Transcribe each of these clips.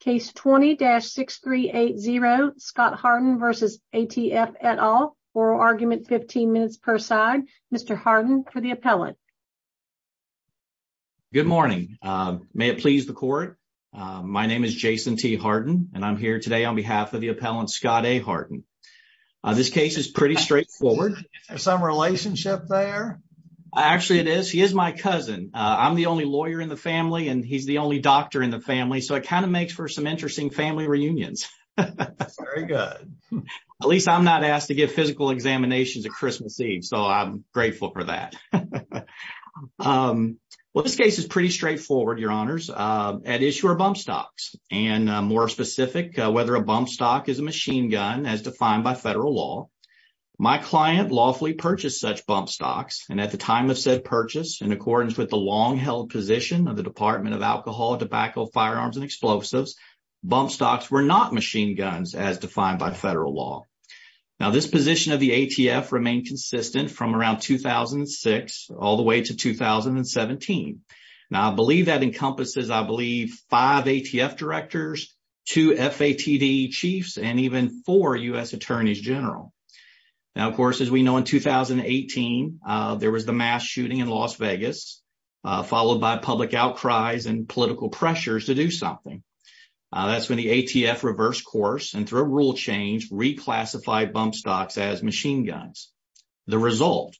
Case 20-6380 Scott Hardin v. ATF et al. Oral argument 15 minutes per side. Mr. Hardin for the appellant. Good morning. May it please the court. My name is Jason T. Hardin and I'm here today on behalf of the appellant Scott A. Hardin. This case is pretty straightforward. Is there some relationship there? Actually it is. He is my cousin. I'm the only lawyer in the family and he's the only doctor in the family so it kind of makes for some interesting family reunions. That's very good. At least I'm not asked to give physical examinations at Christmas Eve so I'm grateful for that. Well this case is pretty straightforward your honors. At issue are bump stocks and more specific whether a bump stock is a machine gun as defined by federal law. My client lawfully purchased such bump stocks and at the time of said purchase in accordance with the long-held position of the Department of Alcohol, Tobacco, Firearms, and Explosives, bump stocks were not machine guns as defined by federal law. Now this position of the ATF remained consistent from around 2006 all the way to 2017. Now I believe that encompasses I believe five ATF directors, two FATD chiefs, and even four U.S. Attorneys General. Now of course as we know in 2018 there was the shooting in Las Vegas followed by public outcries and political pressures to do something. That's when the ATF reversed course and through a rule change reclassified bump stocks as machine guns. The result,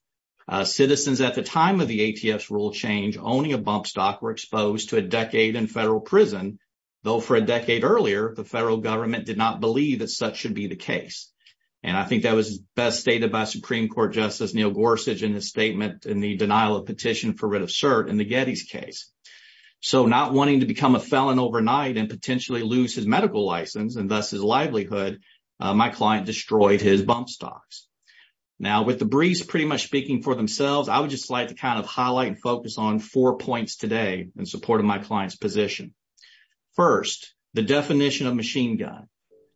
citizens at the time of the ATF's rule change owning a bump stock were exposed to a decade in federal prison though for a decade earlier the federal government did not believe that such should be the case. And I think that was best stated by Supreme Court Justice Neil Gorsuch in his statement in the denial of petition for writ of cert in the Getty's case. So not wanting to become a felon overnight and potentially lose his medical license and thus his livelihood, my client destroyed his bump stocks. Now with the briefs pretty much speaking for themselves, I would just like to kind of highlight and focus on four points today in support of my client's position. First, the definition of machine gun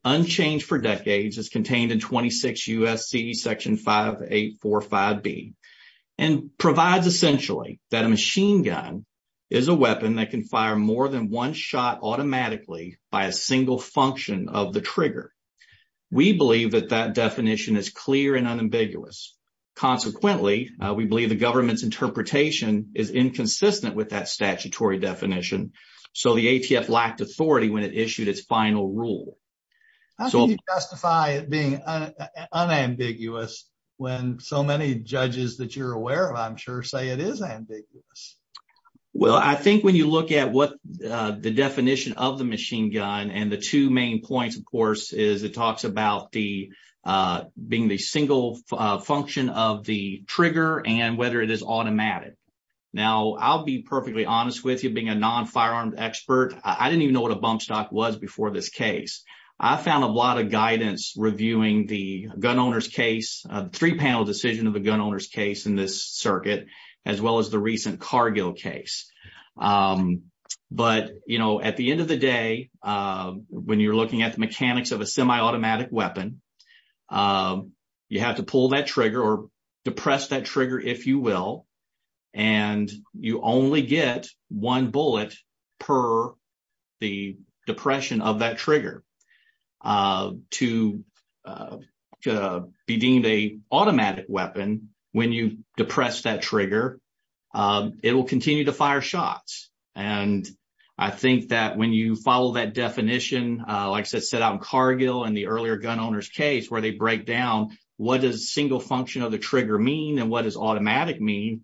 unchanged for decades is contained in 26 U.S.C. Section 5845B and provides essentially that a machine gun is a weapon that can fire more than one shot automatically by a single function of the trigger. We believe that that definition is clear and unambiguous. Consequently, we believe the government's interpretation is inconsistent with that statutory definition so the ATF lacked authority when it issued its final rule. How can you justify it being unambiguous when so many judges that you're aware of I'm sure say it is ambiguous? Well I think when you look at what the definition of the machine gun and the two main points of course is it talks about the being the single function of the trigger and whether it is automatic. Now I'll be perfectly honest with you being a non-firearm expert, I didn't even know what a bump stock was before this case. I found a lot of guidance reviewing the gun owner's case, three panel decision of the gun owner's case in this circuit as well as the recent Cargill case. But you know at the end of the day when you're looking at the mechanics of a semi-automatic weapon, you have to pull that trigger or depress that trigger if you will and you only get one depression of that trigger. To be deemed a automatic weapon when you depress that trigger it will continue to fire shots and I think that when you follow that definition like I said set out in Cargill and the earlier gun owner's case where they break down what does single function of the trigger mean and what does automatic mean,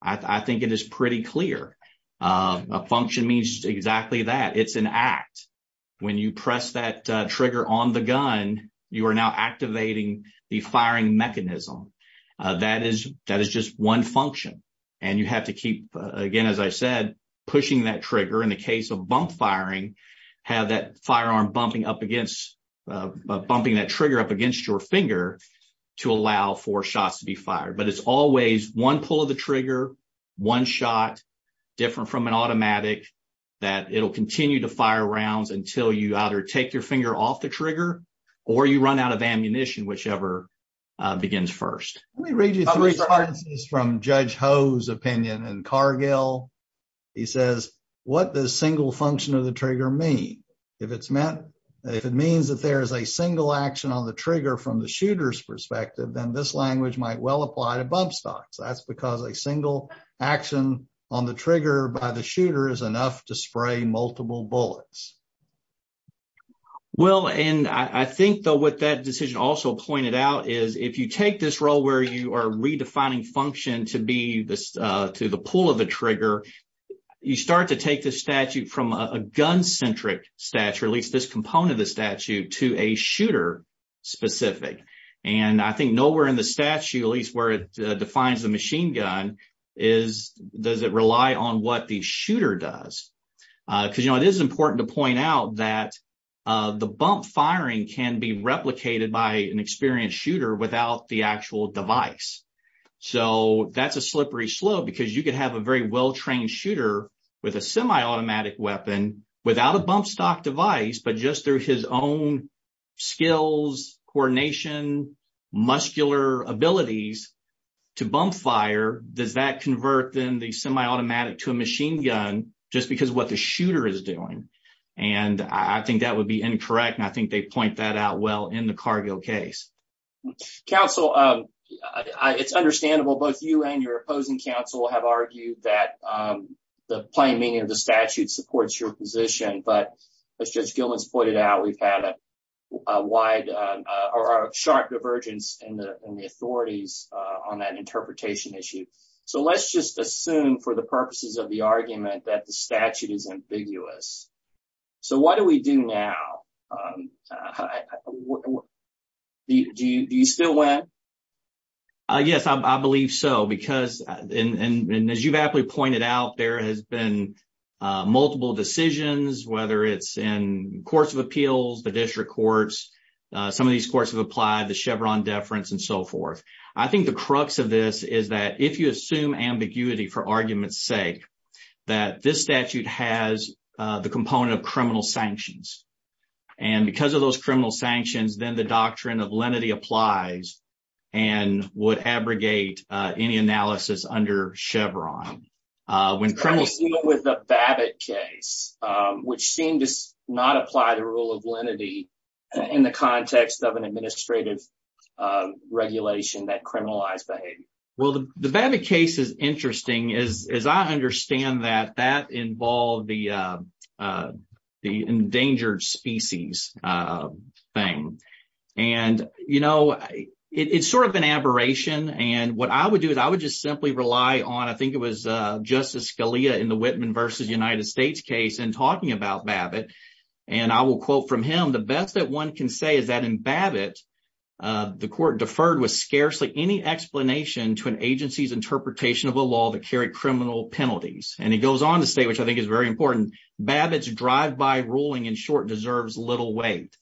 I think it is pretty clear. A function means exactly that, it's an act. When you press that trigger on the gun you are now activating the firing mechanism. That is just one function and you have to keep again as I said pushing that trigger in the case of bump firing have that firearm bumping up against bumping that trigger up against your finger to allow for shots to be fired. But it's always one pull of the trigger, one shot, different from an automatic that it'll continue to fire rounds until you either take your finger off the trigger or you run out of ammunition whichever begins first. Let me read you three sentences from Judge Ho's opinion in Cargill. He says what does single function of the trigger mean? If it's meant if it means that there is a single action on the trigger from the action on the trigger by the shooter is enough to spray multiple bullets. Well and I think though what that decision also pointed out is if you take this role where you are redefining function to be this uh to the pull of the trigger you start to take this statute from a gun centric statute at least this component of the statute to a shooter specific and I think we're in the statute at least where it defines the machine gun is does it rely on what the shooter does. Because you know it is important to point out that the bump firing can be replicated by an experienced shooter without the actual device. So that's a slippery slope because you could have a very well-trained shooter with a semi-automatic weapon without a bump stock device but just through his own skills coordination muscular abilities to bump fire does that convert then the semi-automatic to a machine gun just because what the shooter is doing and I think that would be incorrect and I think they point that out well in the Cargill case. Counsel um it's understandable both you and your opposing counsel have argued that um the plain meaning of the statute supports your position but as Judge Gillins pointed out we've had a wide uh or a sharp divergence in the in the authorities uh on that interpretation issue. So let's just assume for the purposes of the argument that the statute is ambiguous. So what do we do now um do you do you still win? Uh yes I believe so because and and as you've aptly pointed out there has been uh multiple decisions whether it's in courts of appeals the district courts uh some of these courts have applied the Chevron deference and so forth. I think the crux of this is that if you assume ambiguity for argument's sake that this statute has uh the component of criminal sanctions and because of those criminal sanctions then the doctrine of lenity applies and would abrogate uh any analysis under Chevron uh when criminals with the Babbitt case which seemed to not apply the rule of lenity in the context of an administrative uh regulation that criminalized behavior. Well the Babbitt case is interesting as as I understand that that involved the uh the endangered species uh thing and you know it's sort of an aberration and what I would do is I would just simply rely on I think it was uh Justice Scalia in the Whitman versus United States case and talking about Babbitt and I will quote from him the best that one can say is that in Babbitt uh the court deferred with scarcely any explanation to an agency's very important Babbitt's drive-by ruling in short deserves little weight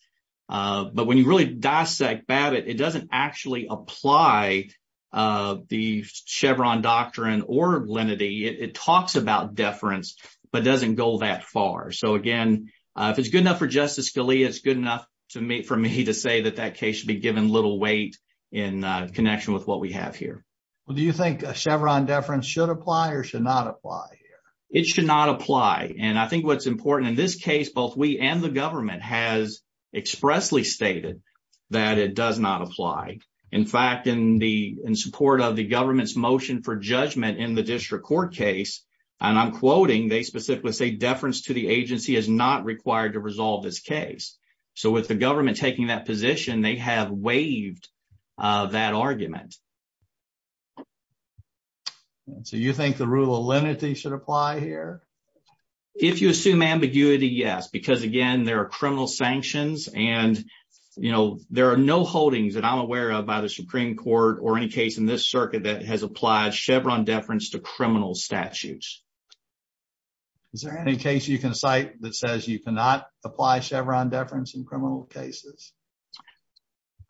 uh but when you really dissect Babbitt it doesn't actually apply uh the Chevron doctrine or lenity it talks about deference but doesn't go that far so again uh if it's good enough for Justice Scalia it's good enough to me for me to say that that case should be given little weight in connection with what we have here. Well do you think a Chevron deference should apply or should not apply here? It should not apply and I think what's important in this case both we and the government has expressly stated that it does not apply in fact in the in support of the government's motion for judgment in the district court case and I'm quoting they specifically say deference to the agency is not required to resolve this case so with the government taking that position they have waived that argument. So you think the rule of lenity should apply here? If you assume ambiguity yes because again there are criminal sanctions and you know there are no holdings that I'm aware of by the Supreme Court or any case in this circuit that has applied Chevron deference to criminal statutes. Is there any case you can cite that says you cannot apply Chevron deference in criminal cases?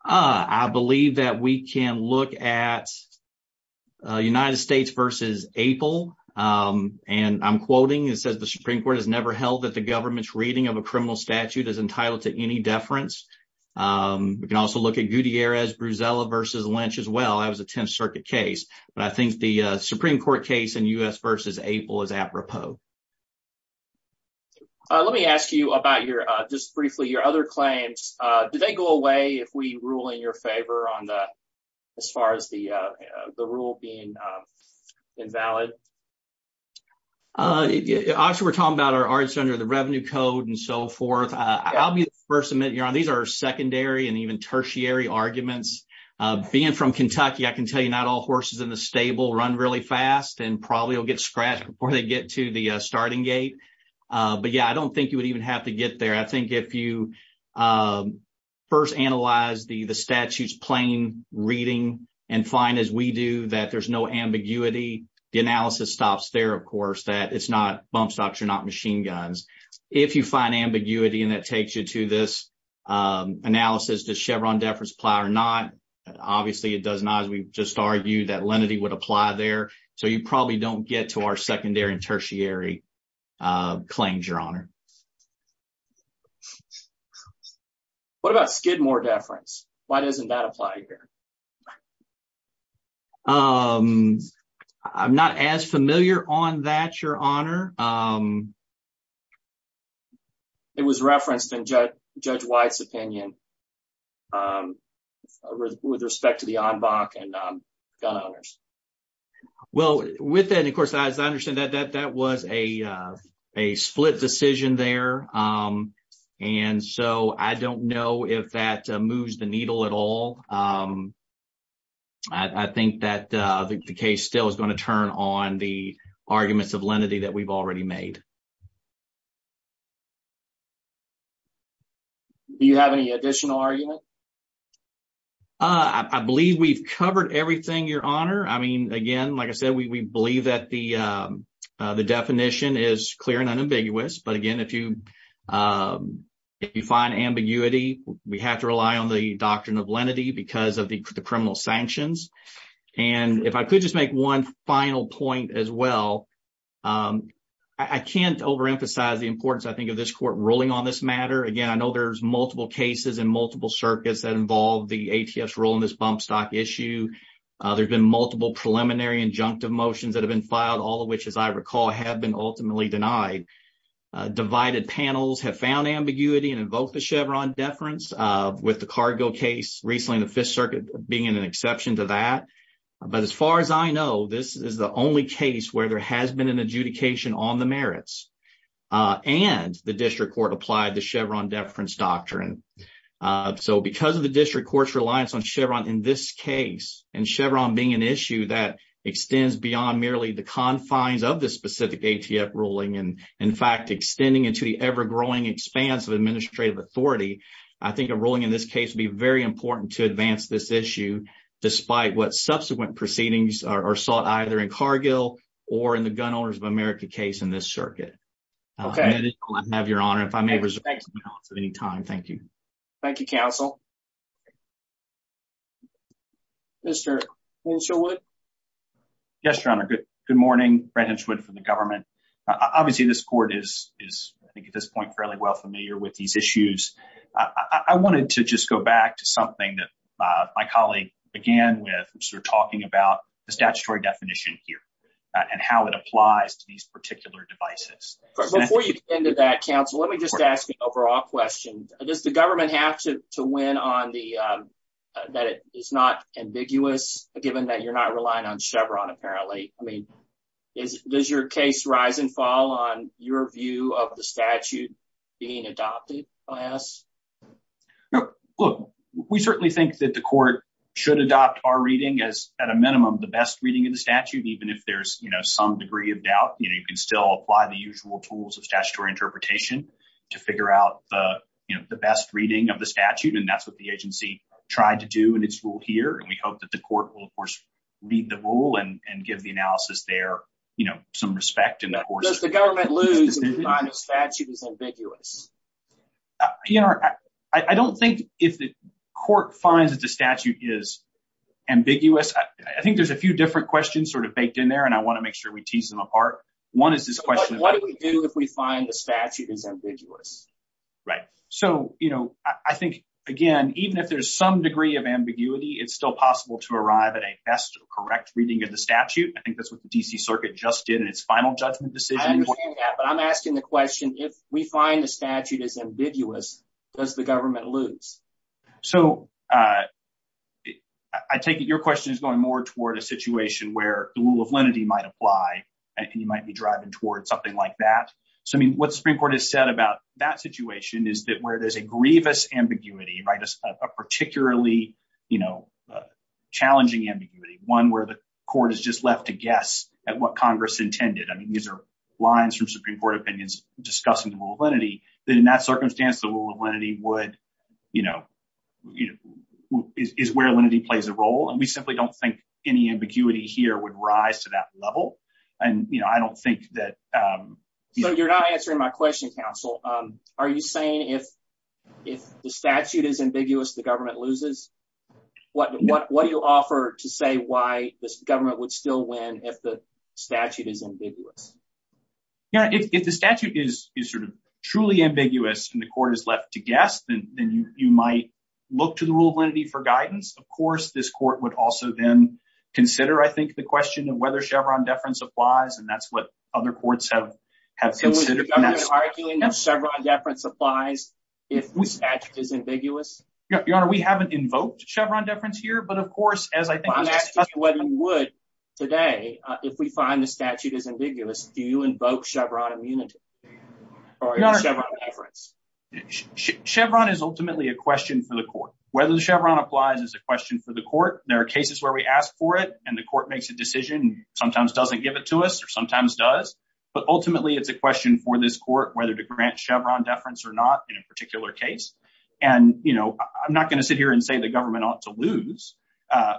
I believe that we can look at United States versus April and I'm quoting it says the Supreme Court has never held that the government's reading of a criminal statute is entitled to any deference. We can also look at Gutierrez Bruzella versus Lynch as well that was a 10th circuit case but I think the Supreme Court case in U.S. versus April is apropos. Let me ask you about your just briefly your other claims. Do they go away if we rule in your favor on the as far as the the rule being invalid? Actually we're talking about our arts under the revenue code and so forth. I'll be the first to admit you're on these are secondary and even tertiary arguments. Being from Kentucky I can get to the starting gate but yeah I don't think you would even have to get there. I think if you first analyze the the statute's plain reading and find as we do that there's no ambiguity the analysis stops there of course that it's not bump stocks are not machine guns. If you find ambiguity and that takes you to this analysis does Chevron deference apply or not obviously it does not as we just argued that lenity would apply there so you probably don't get to our secondary and tertiary claims your honor. What about Skidmore deference? Why doesn't that apply here? I'm not as familiar on that your honor. It was referenced in Judge White's opinion with respect to the en banc and gun owners. Well with that of course as I understand that that was a split decision there and so I don't know if that moves the needle at all. I think that the case still is going to turn on the arguments of lenity that we've already made. Do you have any additional argument? I believe we've covered everything your honor. I mean again like I said we believe that the definition is clear and unambiguous but again if you if you find ambiguity we have to rely on the doctrine of lenity because of the criminal the importance I think of this court ruling on this matter. Again I know there's multiple cases and multiple circuits that involve the ATF's role in this bump stock issue. There's been multiple preliminary injunctive motions that have been filed all of which as I recall have been ultimately denied. Divided panels have found ambiguity and invoked the Chevron deference with the cargo case recently in the fifth circuit being an exception to that. But as far as I know this is the only case where there has been an adjudication on the merits and the district court applied the Chevron deference doctrine. So because of the district court's reliance on Chevron in this case and Chevron being an issue that extends beyond merely the confines of the specific ATF ruling and in fact extending into the ever-growing expanse of administrative authority I think a ruling in this case would be very important to advance this issue despite what subsequent proceedings are either in Cargill or in the Gun Owners of America case in this circuit. I have your honor if I may reserve the balance at any time. Thank you. Thank you counsel. Mr. Winchelwood? Yes your honor. Good morning. Brad Hinchwood from the government. Obviously this court is I think at this point fairly well familiar with these issues. I wanted to just go back to something that my colleague began with sort of talking about the statutory definition here and how it applies to these particular devices. Before you get into that counsel let me just ask an overall question. Does the government have to win on the that it is not ambiguous given that you're not relying on Chevron apparently? I mean does your case rise and fall on your view of the statute being adopted by us? No look we certainly think that the court should adopt our reading as at a minimum the best reading in the statute even if there's you know some degree of doubt you know you can still apply the usual tools of statutory interpretation to figure out the you know the best reading of the statute and that's what the agency tried to do in its rule here and we hope that the court will of course read the rule and and give the analysis there you know some respect. Does the government lose if the statute is ambiguous? Your honor I don't think if the court finds that the statute is ambiguous. I think there's a few different questions sort of baked in there and I want to make sure we tease them apart. One is this question what do we do if we find the statute is ambiguous? Right so you know I think again even if there's some degree of ambiguity it's still possible to arrive at a best correct reading of the statute. I think that's what the DC circuit just did in its final judgment decision. I understand that but I'm asking the question if we find the statute is ambiguous does the government lose? So I take it your question is going more toward a situation where the rule of lenity might apply and you might be driving toward something like that. So I mean what the Supreme Court has said about that situation is that where there's a grievous ambiguity right a particularly you know court is just left to guess at what Congress intended. I mean these are lines from Supreme Court opinions discussing the rule of lenity that in that circumstance the rule of lenity would you know you know is where lenity plays a role and we simply don't think any ambiguity here would rise to that level and you know I don't think that. So you're not answering my question counsel. Are you saying if if the statute is ambiguous the government loses? What what what do you offer to say why this government would still win if the statute is ambiguous? Yeah if the statute is is sort of truly ambiguous and the court is left to guess then then you you might look to the rule of lenity for guidance. Of course this court would also then consider I think the question of whether Chevron deference applies and that's what other courts have have considered. So is the government arguing that Chevron deference applies if the statute is ambiguous? Yeah your honor we haven't invoked Chevron deference here but of course as I think whether you would today if we find the statute is ambiguous do you invoke Chevron immunity or Chevron deference? Chevron is ultimately a question for the court whether the Chevron applies is a question for the court. There are cases where we ask for it and the court makes a decision sometimes doesn't give it to us or sometimes does but ultimately it's a question for this court whether to grant Chevron deference or not in a particular case and you know I'm not going to sit here and say the government ought to lose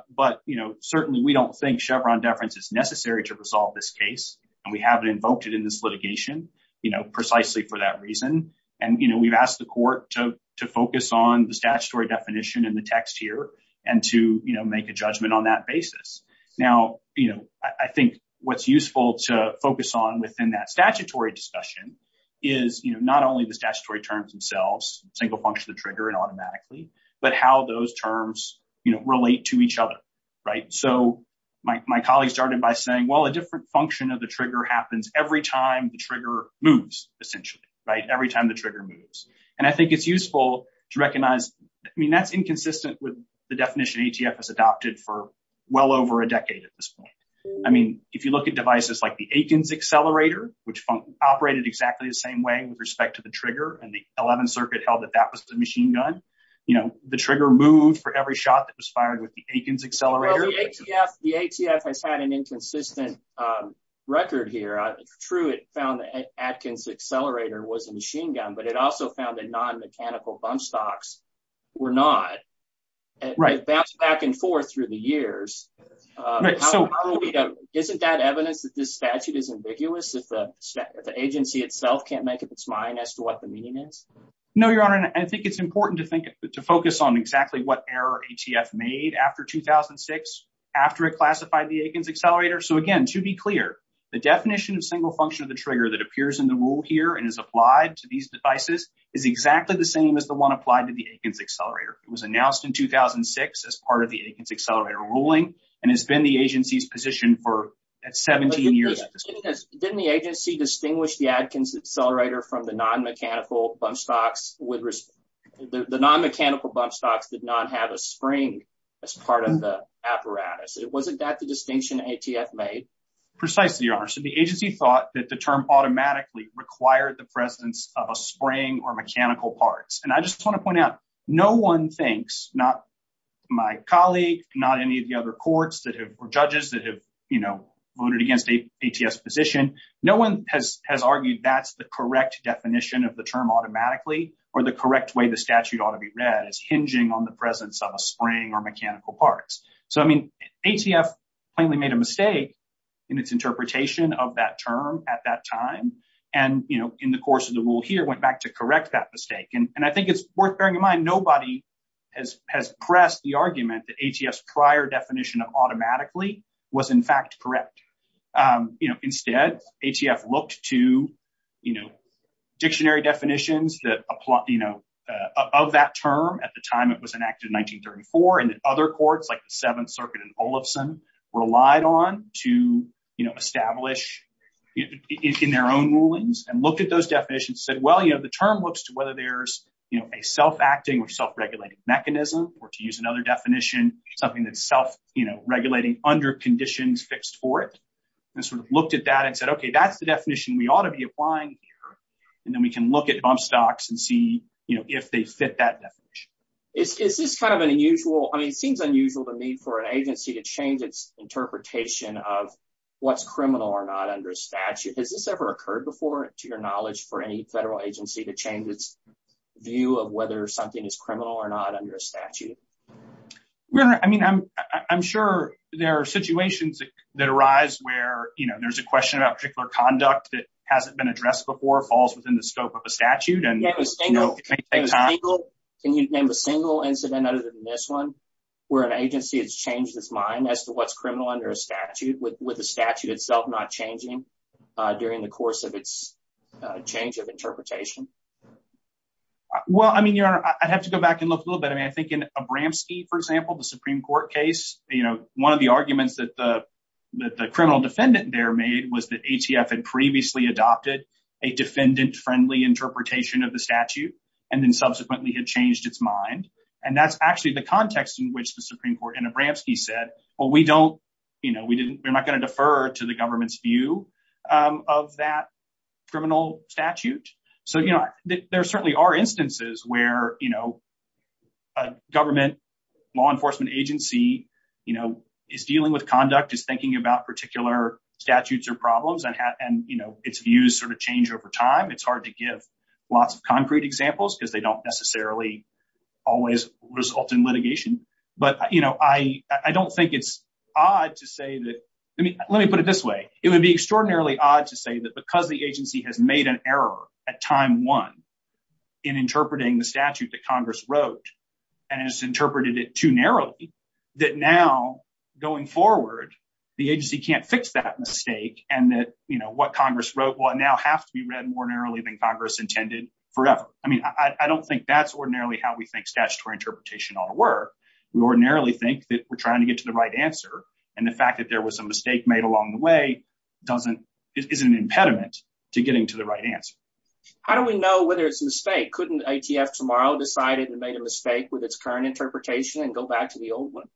but you know certainly we don't think Chevron deference is necessary to resolve this case and we haven't invoked it in this litigation you know precisely for that reason and you know we've asked the court to to focus on the statutory definition in the text here and to you know make a judgment on that basis. Now you know I think what's useful to focus on within that statutory discussion is you know not only the statutory terms themselves single function of the trigger and automatically but how those terms you know relate to each other right so my colleague started by saying well a different function of the trigger happens every time the trigger moves essentially right every time the trigger moves and I think it's useful to recognize I mean that's inconsistent with the definition ATF has adopted for well over a decade at this point. I mean if you look at devices like the Atkins accelerator which operated exactly the same way with respect to the trigger and the 11th circuit held that that was the machine gun you know the trigger moved for every shot that was fired with the Atkins accelerator. The ATF has had an inconsistent record here. Truett found the Atkins accelerator was a machine gun but it also found that non-mechanical bump stocks were not right back and forth through the years. Isn't that evidence that this statute is ambiguous if the agency itself can't make up its mind as to what the meaning is? No your honor I think it's important to think to focus on exactly what error ATF made after 2006 after it classified the Atkins accelerator so again to be clear the definition of single function of the trigger that appears in the rule here and is exactly the same as the one applied to the Atkins accelerator. It was announced in 2006 as part of the Atkins accelerator ruling and has been the agency's position for at 17 years. Didn't the agency distinguish the Atkins accelerator from the non-mechanical bump stocks? The non-mechanical bump stocks did not have a spring as part of the apparatus. Wasn't that the distinction ATF made? Precisely your honor so the agency thought that the term automatically required the presence of a spring or mechanical parts and I just want to point out no one thinks not my colleague not any of the other courts that have or judges that have you know voted against the ATF's position no one has has argued that's the correct definition of the term automatically or the correct way the statute ought to be read as hinging on the presence of a spring or mechanical parts. So I mean ATF plainly made a mistake in its interpretation of that term at that time and you course of the rule here went back to correct that mistake and I think it's worth bearing in mind nobody has has pressed the argument that ATF's prior definition of automatically was in fact correct. You know instead ATF looked to you know dictionary definitions that apply you know of that term at the time it was enacted in 1934 and other courts like the seventh circuit and said well you know the term looks to whether there's you know a self-acting or self-regulating mechanism or to use another definition something that's self you know regulating under conditions fixed for it and sort of looked at that and said okay that's the definition we ought to be applying here and then we can look at bump stocks and see you know if they fit that definition. Is this kind of an unusual I mean it seems unusual to me for an agency to change its interpretation of what's criminal or not under statute has this ever occurred before to your knowledge for any federal agency to change its view of whether something is criminal or not under a statute? I mean I'm sure there are situations that arise where you know there's a question about particular conduct that hasn't been addressed before falls within the scope of a statute and you know. Can you name a single incident other than this one where an agency has changed its mind as to what's criminal under a statute with the statute itself not changing during the course of its change of interpretation? Well I mean your honor I'd have to go back and look a little bit I mean I think in Abramski for example the Supreme Court case you know one of the arguments that the that the criminal defendant there made was that ATF had previously adopted a defendant-friendly interpretation of the statute and then subsequently had changed its mind and that's actually the context in which the Supreme Court and Abramski said well we don't you know we we're not going to defer to the government's view of that criminal statute. So you know there certainly are instances where you know a government law enforcement agency you know is dealing with conduct is thinking about particular statutes or problems and have and you know its views sort of change over time it's hard to give lots of concrete examples because they don't necessarily always result in litigation but you know I I don't think it's odd to say that I mean let me put it this way it would be extraordinarily odd to say that because the agency has made an error at time one in interpreting the statute that Congress wrote and has interpreted it too narrowly that now going forward the agency can't fix that mistake and that you know what Congress wrote will now have to be read more narrowly than Congress intended forever. I mean I don't think that's ordinarily how we think statutory interpretation ought to work. We ordinarily think that we're trying to get to the right answer and the fact that there was a mistake made along the way doesn't is an impediment to getting to the right answer. How do we know whether it's a mistake? Couldn't ATF tomorrow decide it and made a mistake with its current interpretation and go back to the old one?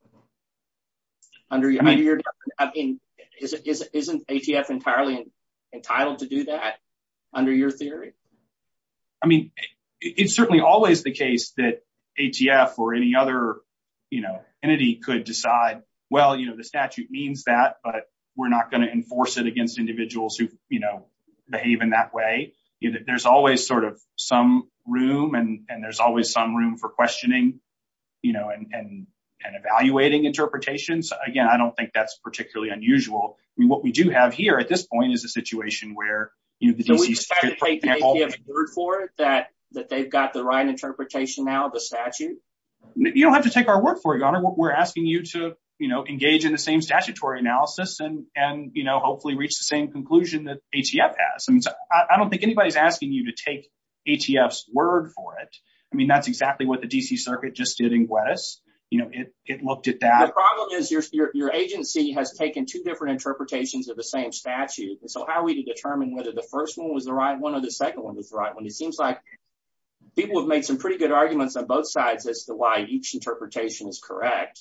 Under your I mean isn't ATF entirely entitled to do that under your theory? I mean it's certainly always the case that ATF or any other you know entity could decide well you know the statute means that but we're not going to enforce it against individuals who you know behave in that way. You know there's always sort of some room and and there's always some room for questioning you know and and evaluating interpretations. Again I don't think that's particularly unusual. I mean what we do have here at this point is a situation where you know we just try to take the ATF's word for it that that they've got the right interpretation now the statute. You don't have to take our word for it your honor. We're asking you to you know engage in the same statutory analysis and and you know hopefully reach the same conclusion that ATF has. I mean I don't think anybody's asking you to take ATF's word for it. I mean that's exactly what the DC circuit just did in Gwetys. You know it it looked at that. The problem is your your agency has taken two different interpretations of the same statute. So how to determine whether the first one was the right one or the second one was the right one? It seems like people have made some pretty good arguments on both sides as to why each interpretation is correct.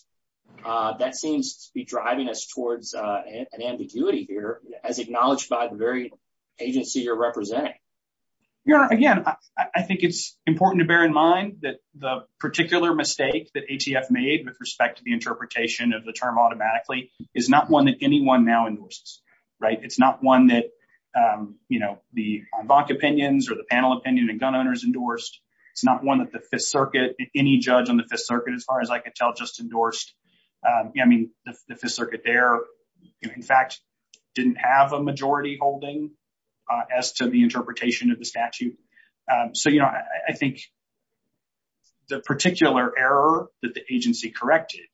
That seems to be driving us towards an ambiguity here as acknowledged by the very agency you're representing. Your honor again I think it's important to bear in mind that the particular mistake that ATF made with respect to the interpretation of the term automatically is not one that anyone now endorses right. It's not one that you know the en banc opinions or the panel opinion and gun owners endorsed. It's not one that the fifth circuit any judge on the fifth circuit as far as I could tell just endorsed. I mean the fifth circuit there in fact didn't have a majority holding as to the interpretation of the statute. So you know I think the particular error that the agency corrected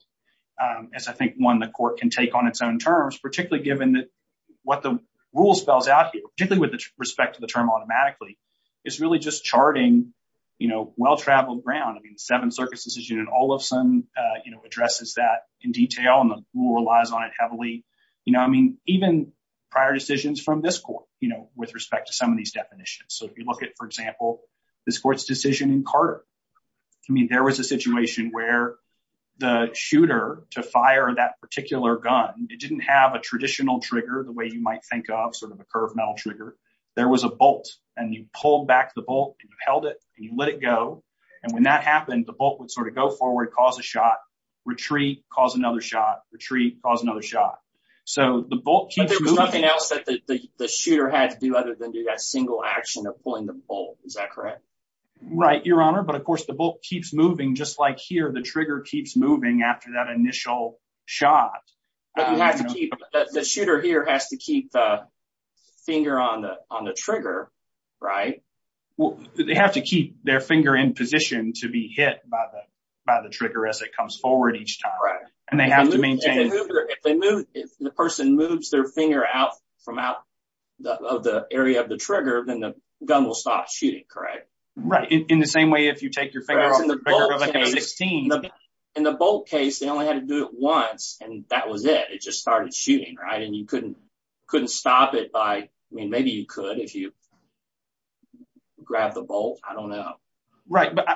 as I think one the court can take on its own terms particularly given that what the rule spells out here particularly with respect to the term automatically is really just charting you know well-traveled ground. I mean the seventh circuit's decision and all of a sudden you know addresses that in detail and the rule relies on it heavily. You know I mean even prior decisions from this court you know with respect to some of these definitions. So if you look at for example this court's decision in Carter. I mean there was a where the shooter to fire that particular gun it didn't have a traditional trigger the way you might think of sort of a curved metal trigger. There was a bolt and you pulled back the bolt and you held it and you let it go and when that happened the bolt would sort of go forward cause a shot, retreat cause another shot, retreat cause another shot. So the bolt there was nothing else that the shooter had to do other than do that single action of pulling the bolt. Is that correct? Right your honor but of course the bolt keeps moving just like here the trigger keeps moving after that initial shot. But you have to keep the shooter here has to keep the finger on the on the trigger right? Well they have to keep their finger in position to be hit by the by the trigger as it comes forward each time. Right. And they have to maintain. If they move if the person moves their finger out from out of the area of the trigger then the gun will stop shooting correct? Right in the same way if you take your finger off the trigger like a 16. In the bolt case they only had to do it once and that was it it just started shooting right and you couldn't couldn't stop it by I mean maybe you could if you grabbed the bolt I don't know. Right but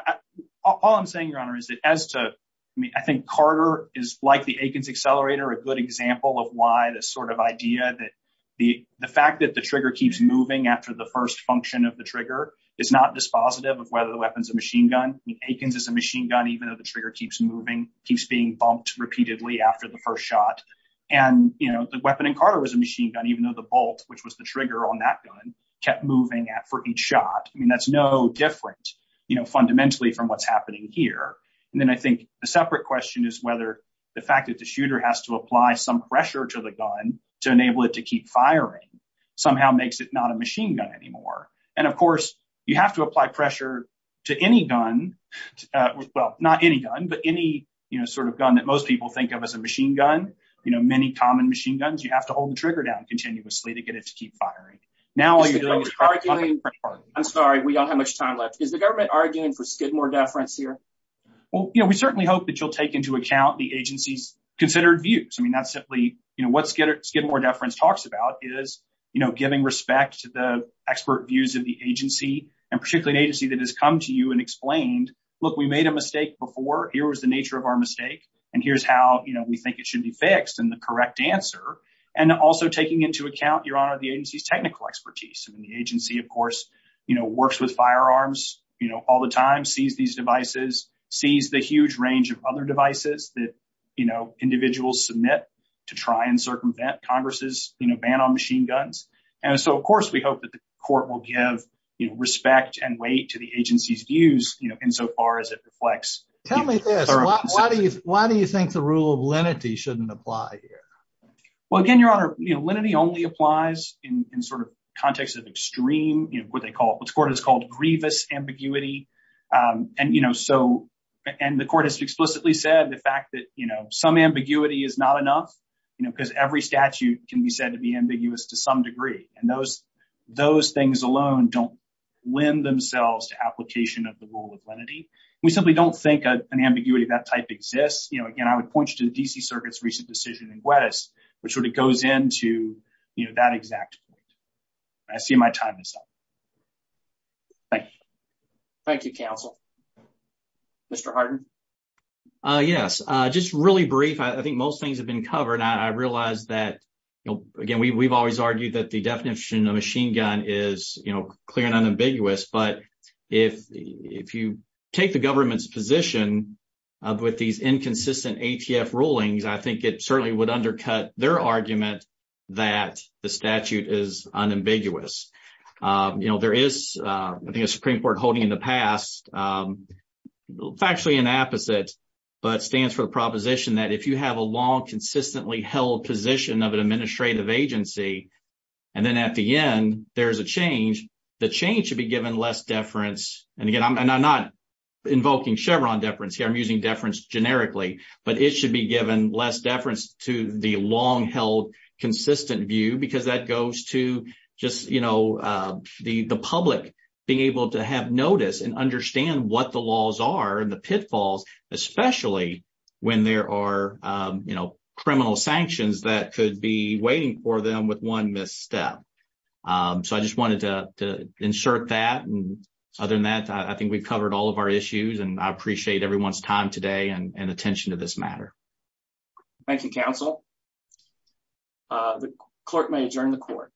all I'm saying your honor is that as to I mean I think Carter is like the Akins accelerator a good example of why this sort idea that the the fact that the trigger keeps moving after the first function of the trigger is not dispositive of whether the weapon's a machine gun. I mean Akins is a machine gun even though the trigger keeps moving keeps being bumped repeatedly after the first shot. And you know the weapon in Carter was a machine gun even though the bolt which was the trigger on that gun kept moving at for each shot. I mean that's no different you know fundamentally from what's happening here. And then I think a separate question is whether the fact that the shooter has to apply some pressure to the gun to enable it to keep firing somehow makes it not a machine gun anymore. And of course you have to apply pressure to any gun well not any gun but any you know sort of gun that most people think of as a machine gun. You know many common machine guns you have to hold the trigger down continuously to get it to keep firing. Now all you're doing is arguing. I'm sorry we don't have much time left. Is the government arguing for Skidmore deference here? Well you know we certainly hope that you'll take into account the agency's considered views. I mean that's simply you know what Skidmore deference talks about is you know giving respect to the expert views of the agency and particularly an agency that has come to you and explained look we made a mistake before here was the nature of our mistake and here's how you know we think it should be fixed and the correct answer. And also taking into account your honor the agency's technical expertise. I mean the agency of course you know works with firearms you know all the time sees these devices sees the huge range of other devices that you know individuals submit to try and circumvent congress's you know ban on machine guns. And so of course we hope that the court will give you respect and weight to the agency's views you know insofar as it reflects. Tell me this why do you think the rule of lenity shouldn't apply here? Well again your honor you know lenity only applies in sort of context of extreme you know what they call what's called grievous ambiguity. And you know so and the court has explicitly said the fact that you know some ambiguity is not enough you know because every statute can be said to be ambiguous to some degree. And those those things alone don't lend themselves to application of the rule of lenity. We simply don't think an ambiguity of that type exists you know again I would point you to the D.C. circuit's recent decision in Gwedis which sort of goes into you know that exact point. I see my time is up. Thank you. Thank you counsel. Mr. Harden. Yes just really brief I think most things have been covered. I realize that again we've always argued that the definition of machine gun is you know clear and unambiguous. But if if you take the government's position with these inconsistent ATF rulings I think it certainly would undercut their argument that the statute is unambiguous. You know there is I think a factually an opposite but stands for the proposition that if you have a long consistently held position of an administrative agency and then at the end there's a change the change should be given less deference. And again I'm not invoking Chevron deference here I'm using deference generically. But it should be given less deference to the long held consistent view because that goes to just you know the public being able to have notice and understand what the laws are and the pitfalls especially when there are you know criminal sanctions that could be waiting for them with one misstep. So I just wanted to insert that and other than that I think we've covered all of our issues and I appreciate everyone's time today and attention to this matter. Thank you counsel. The clerk may adjourn the court.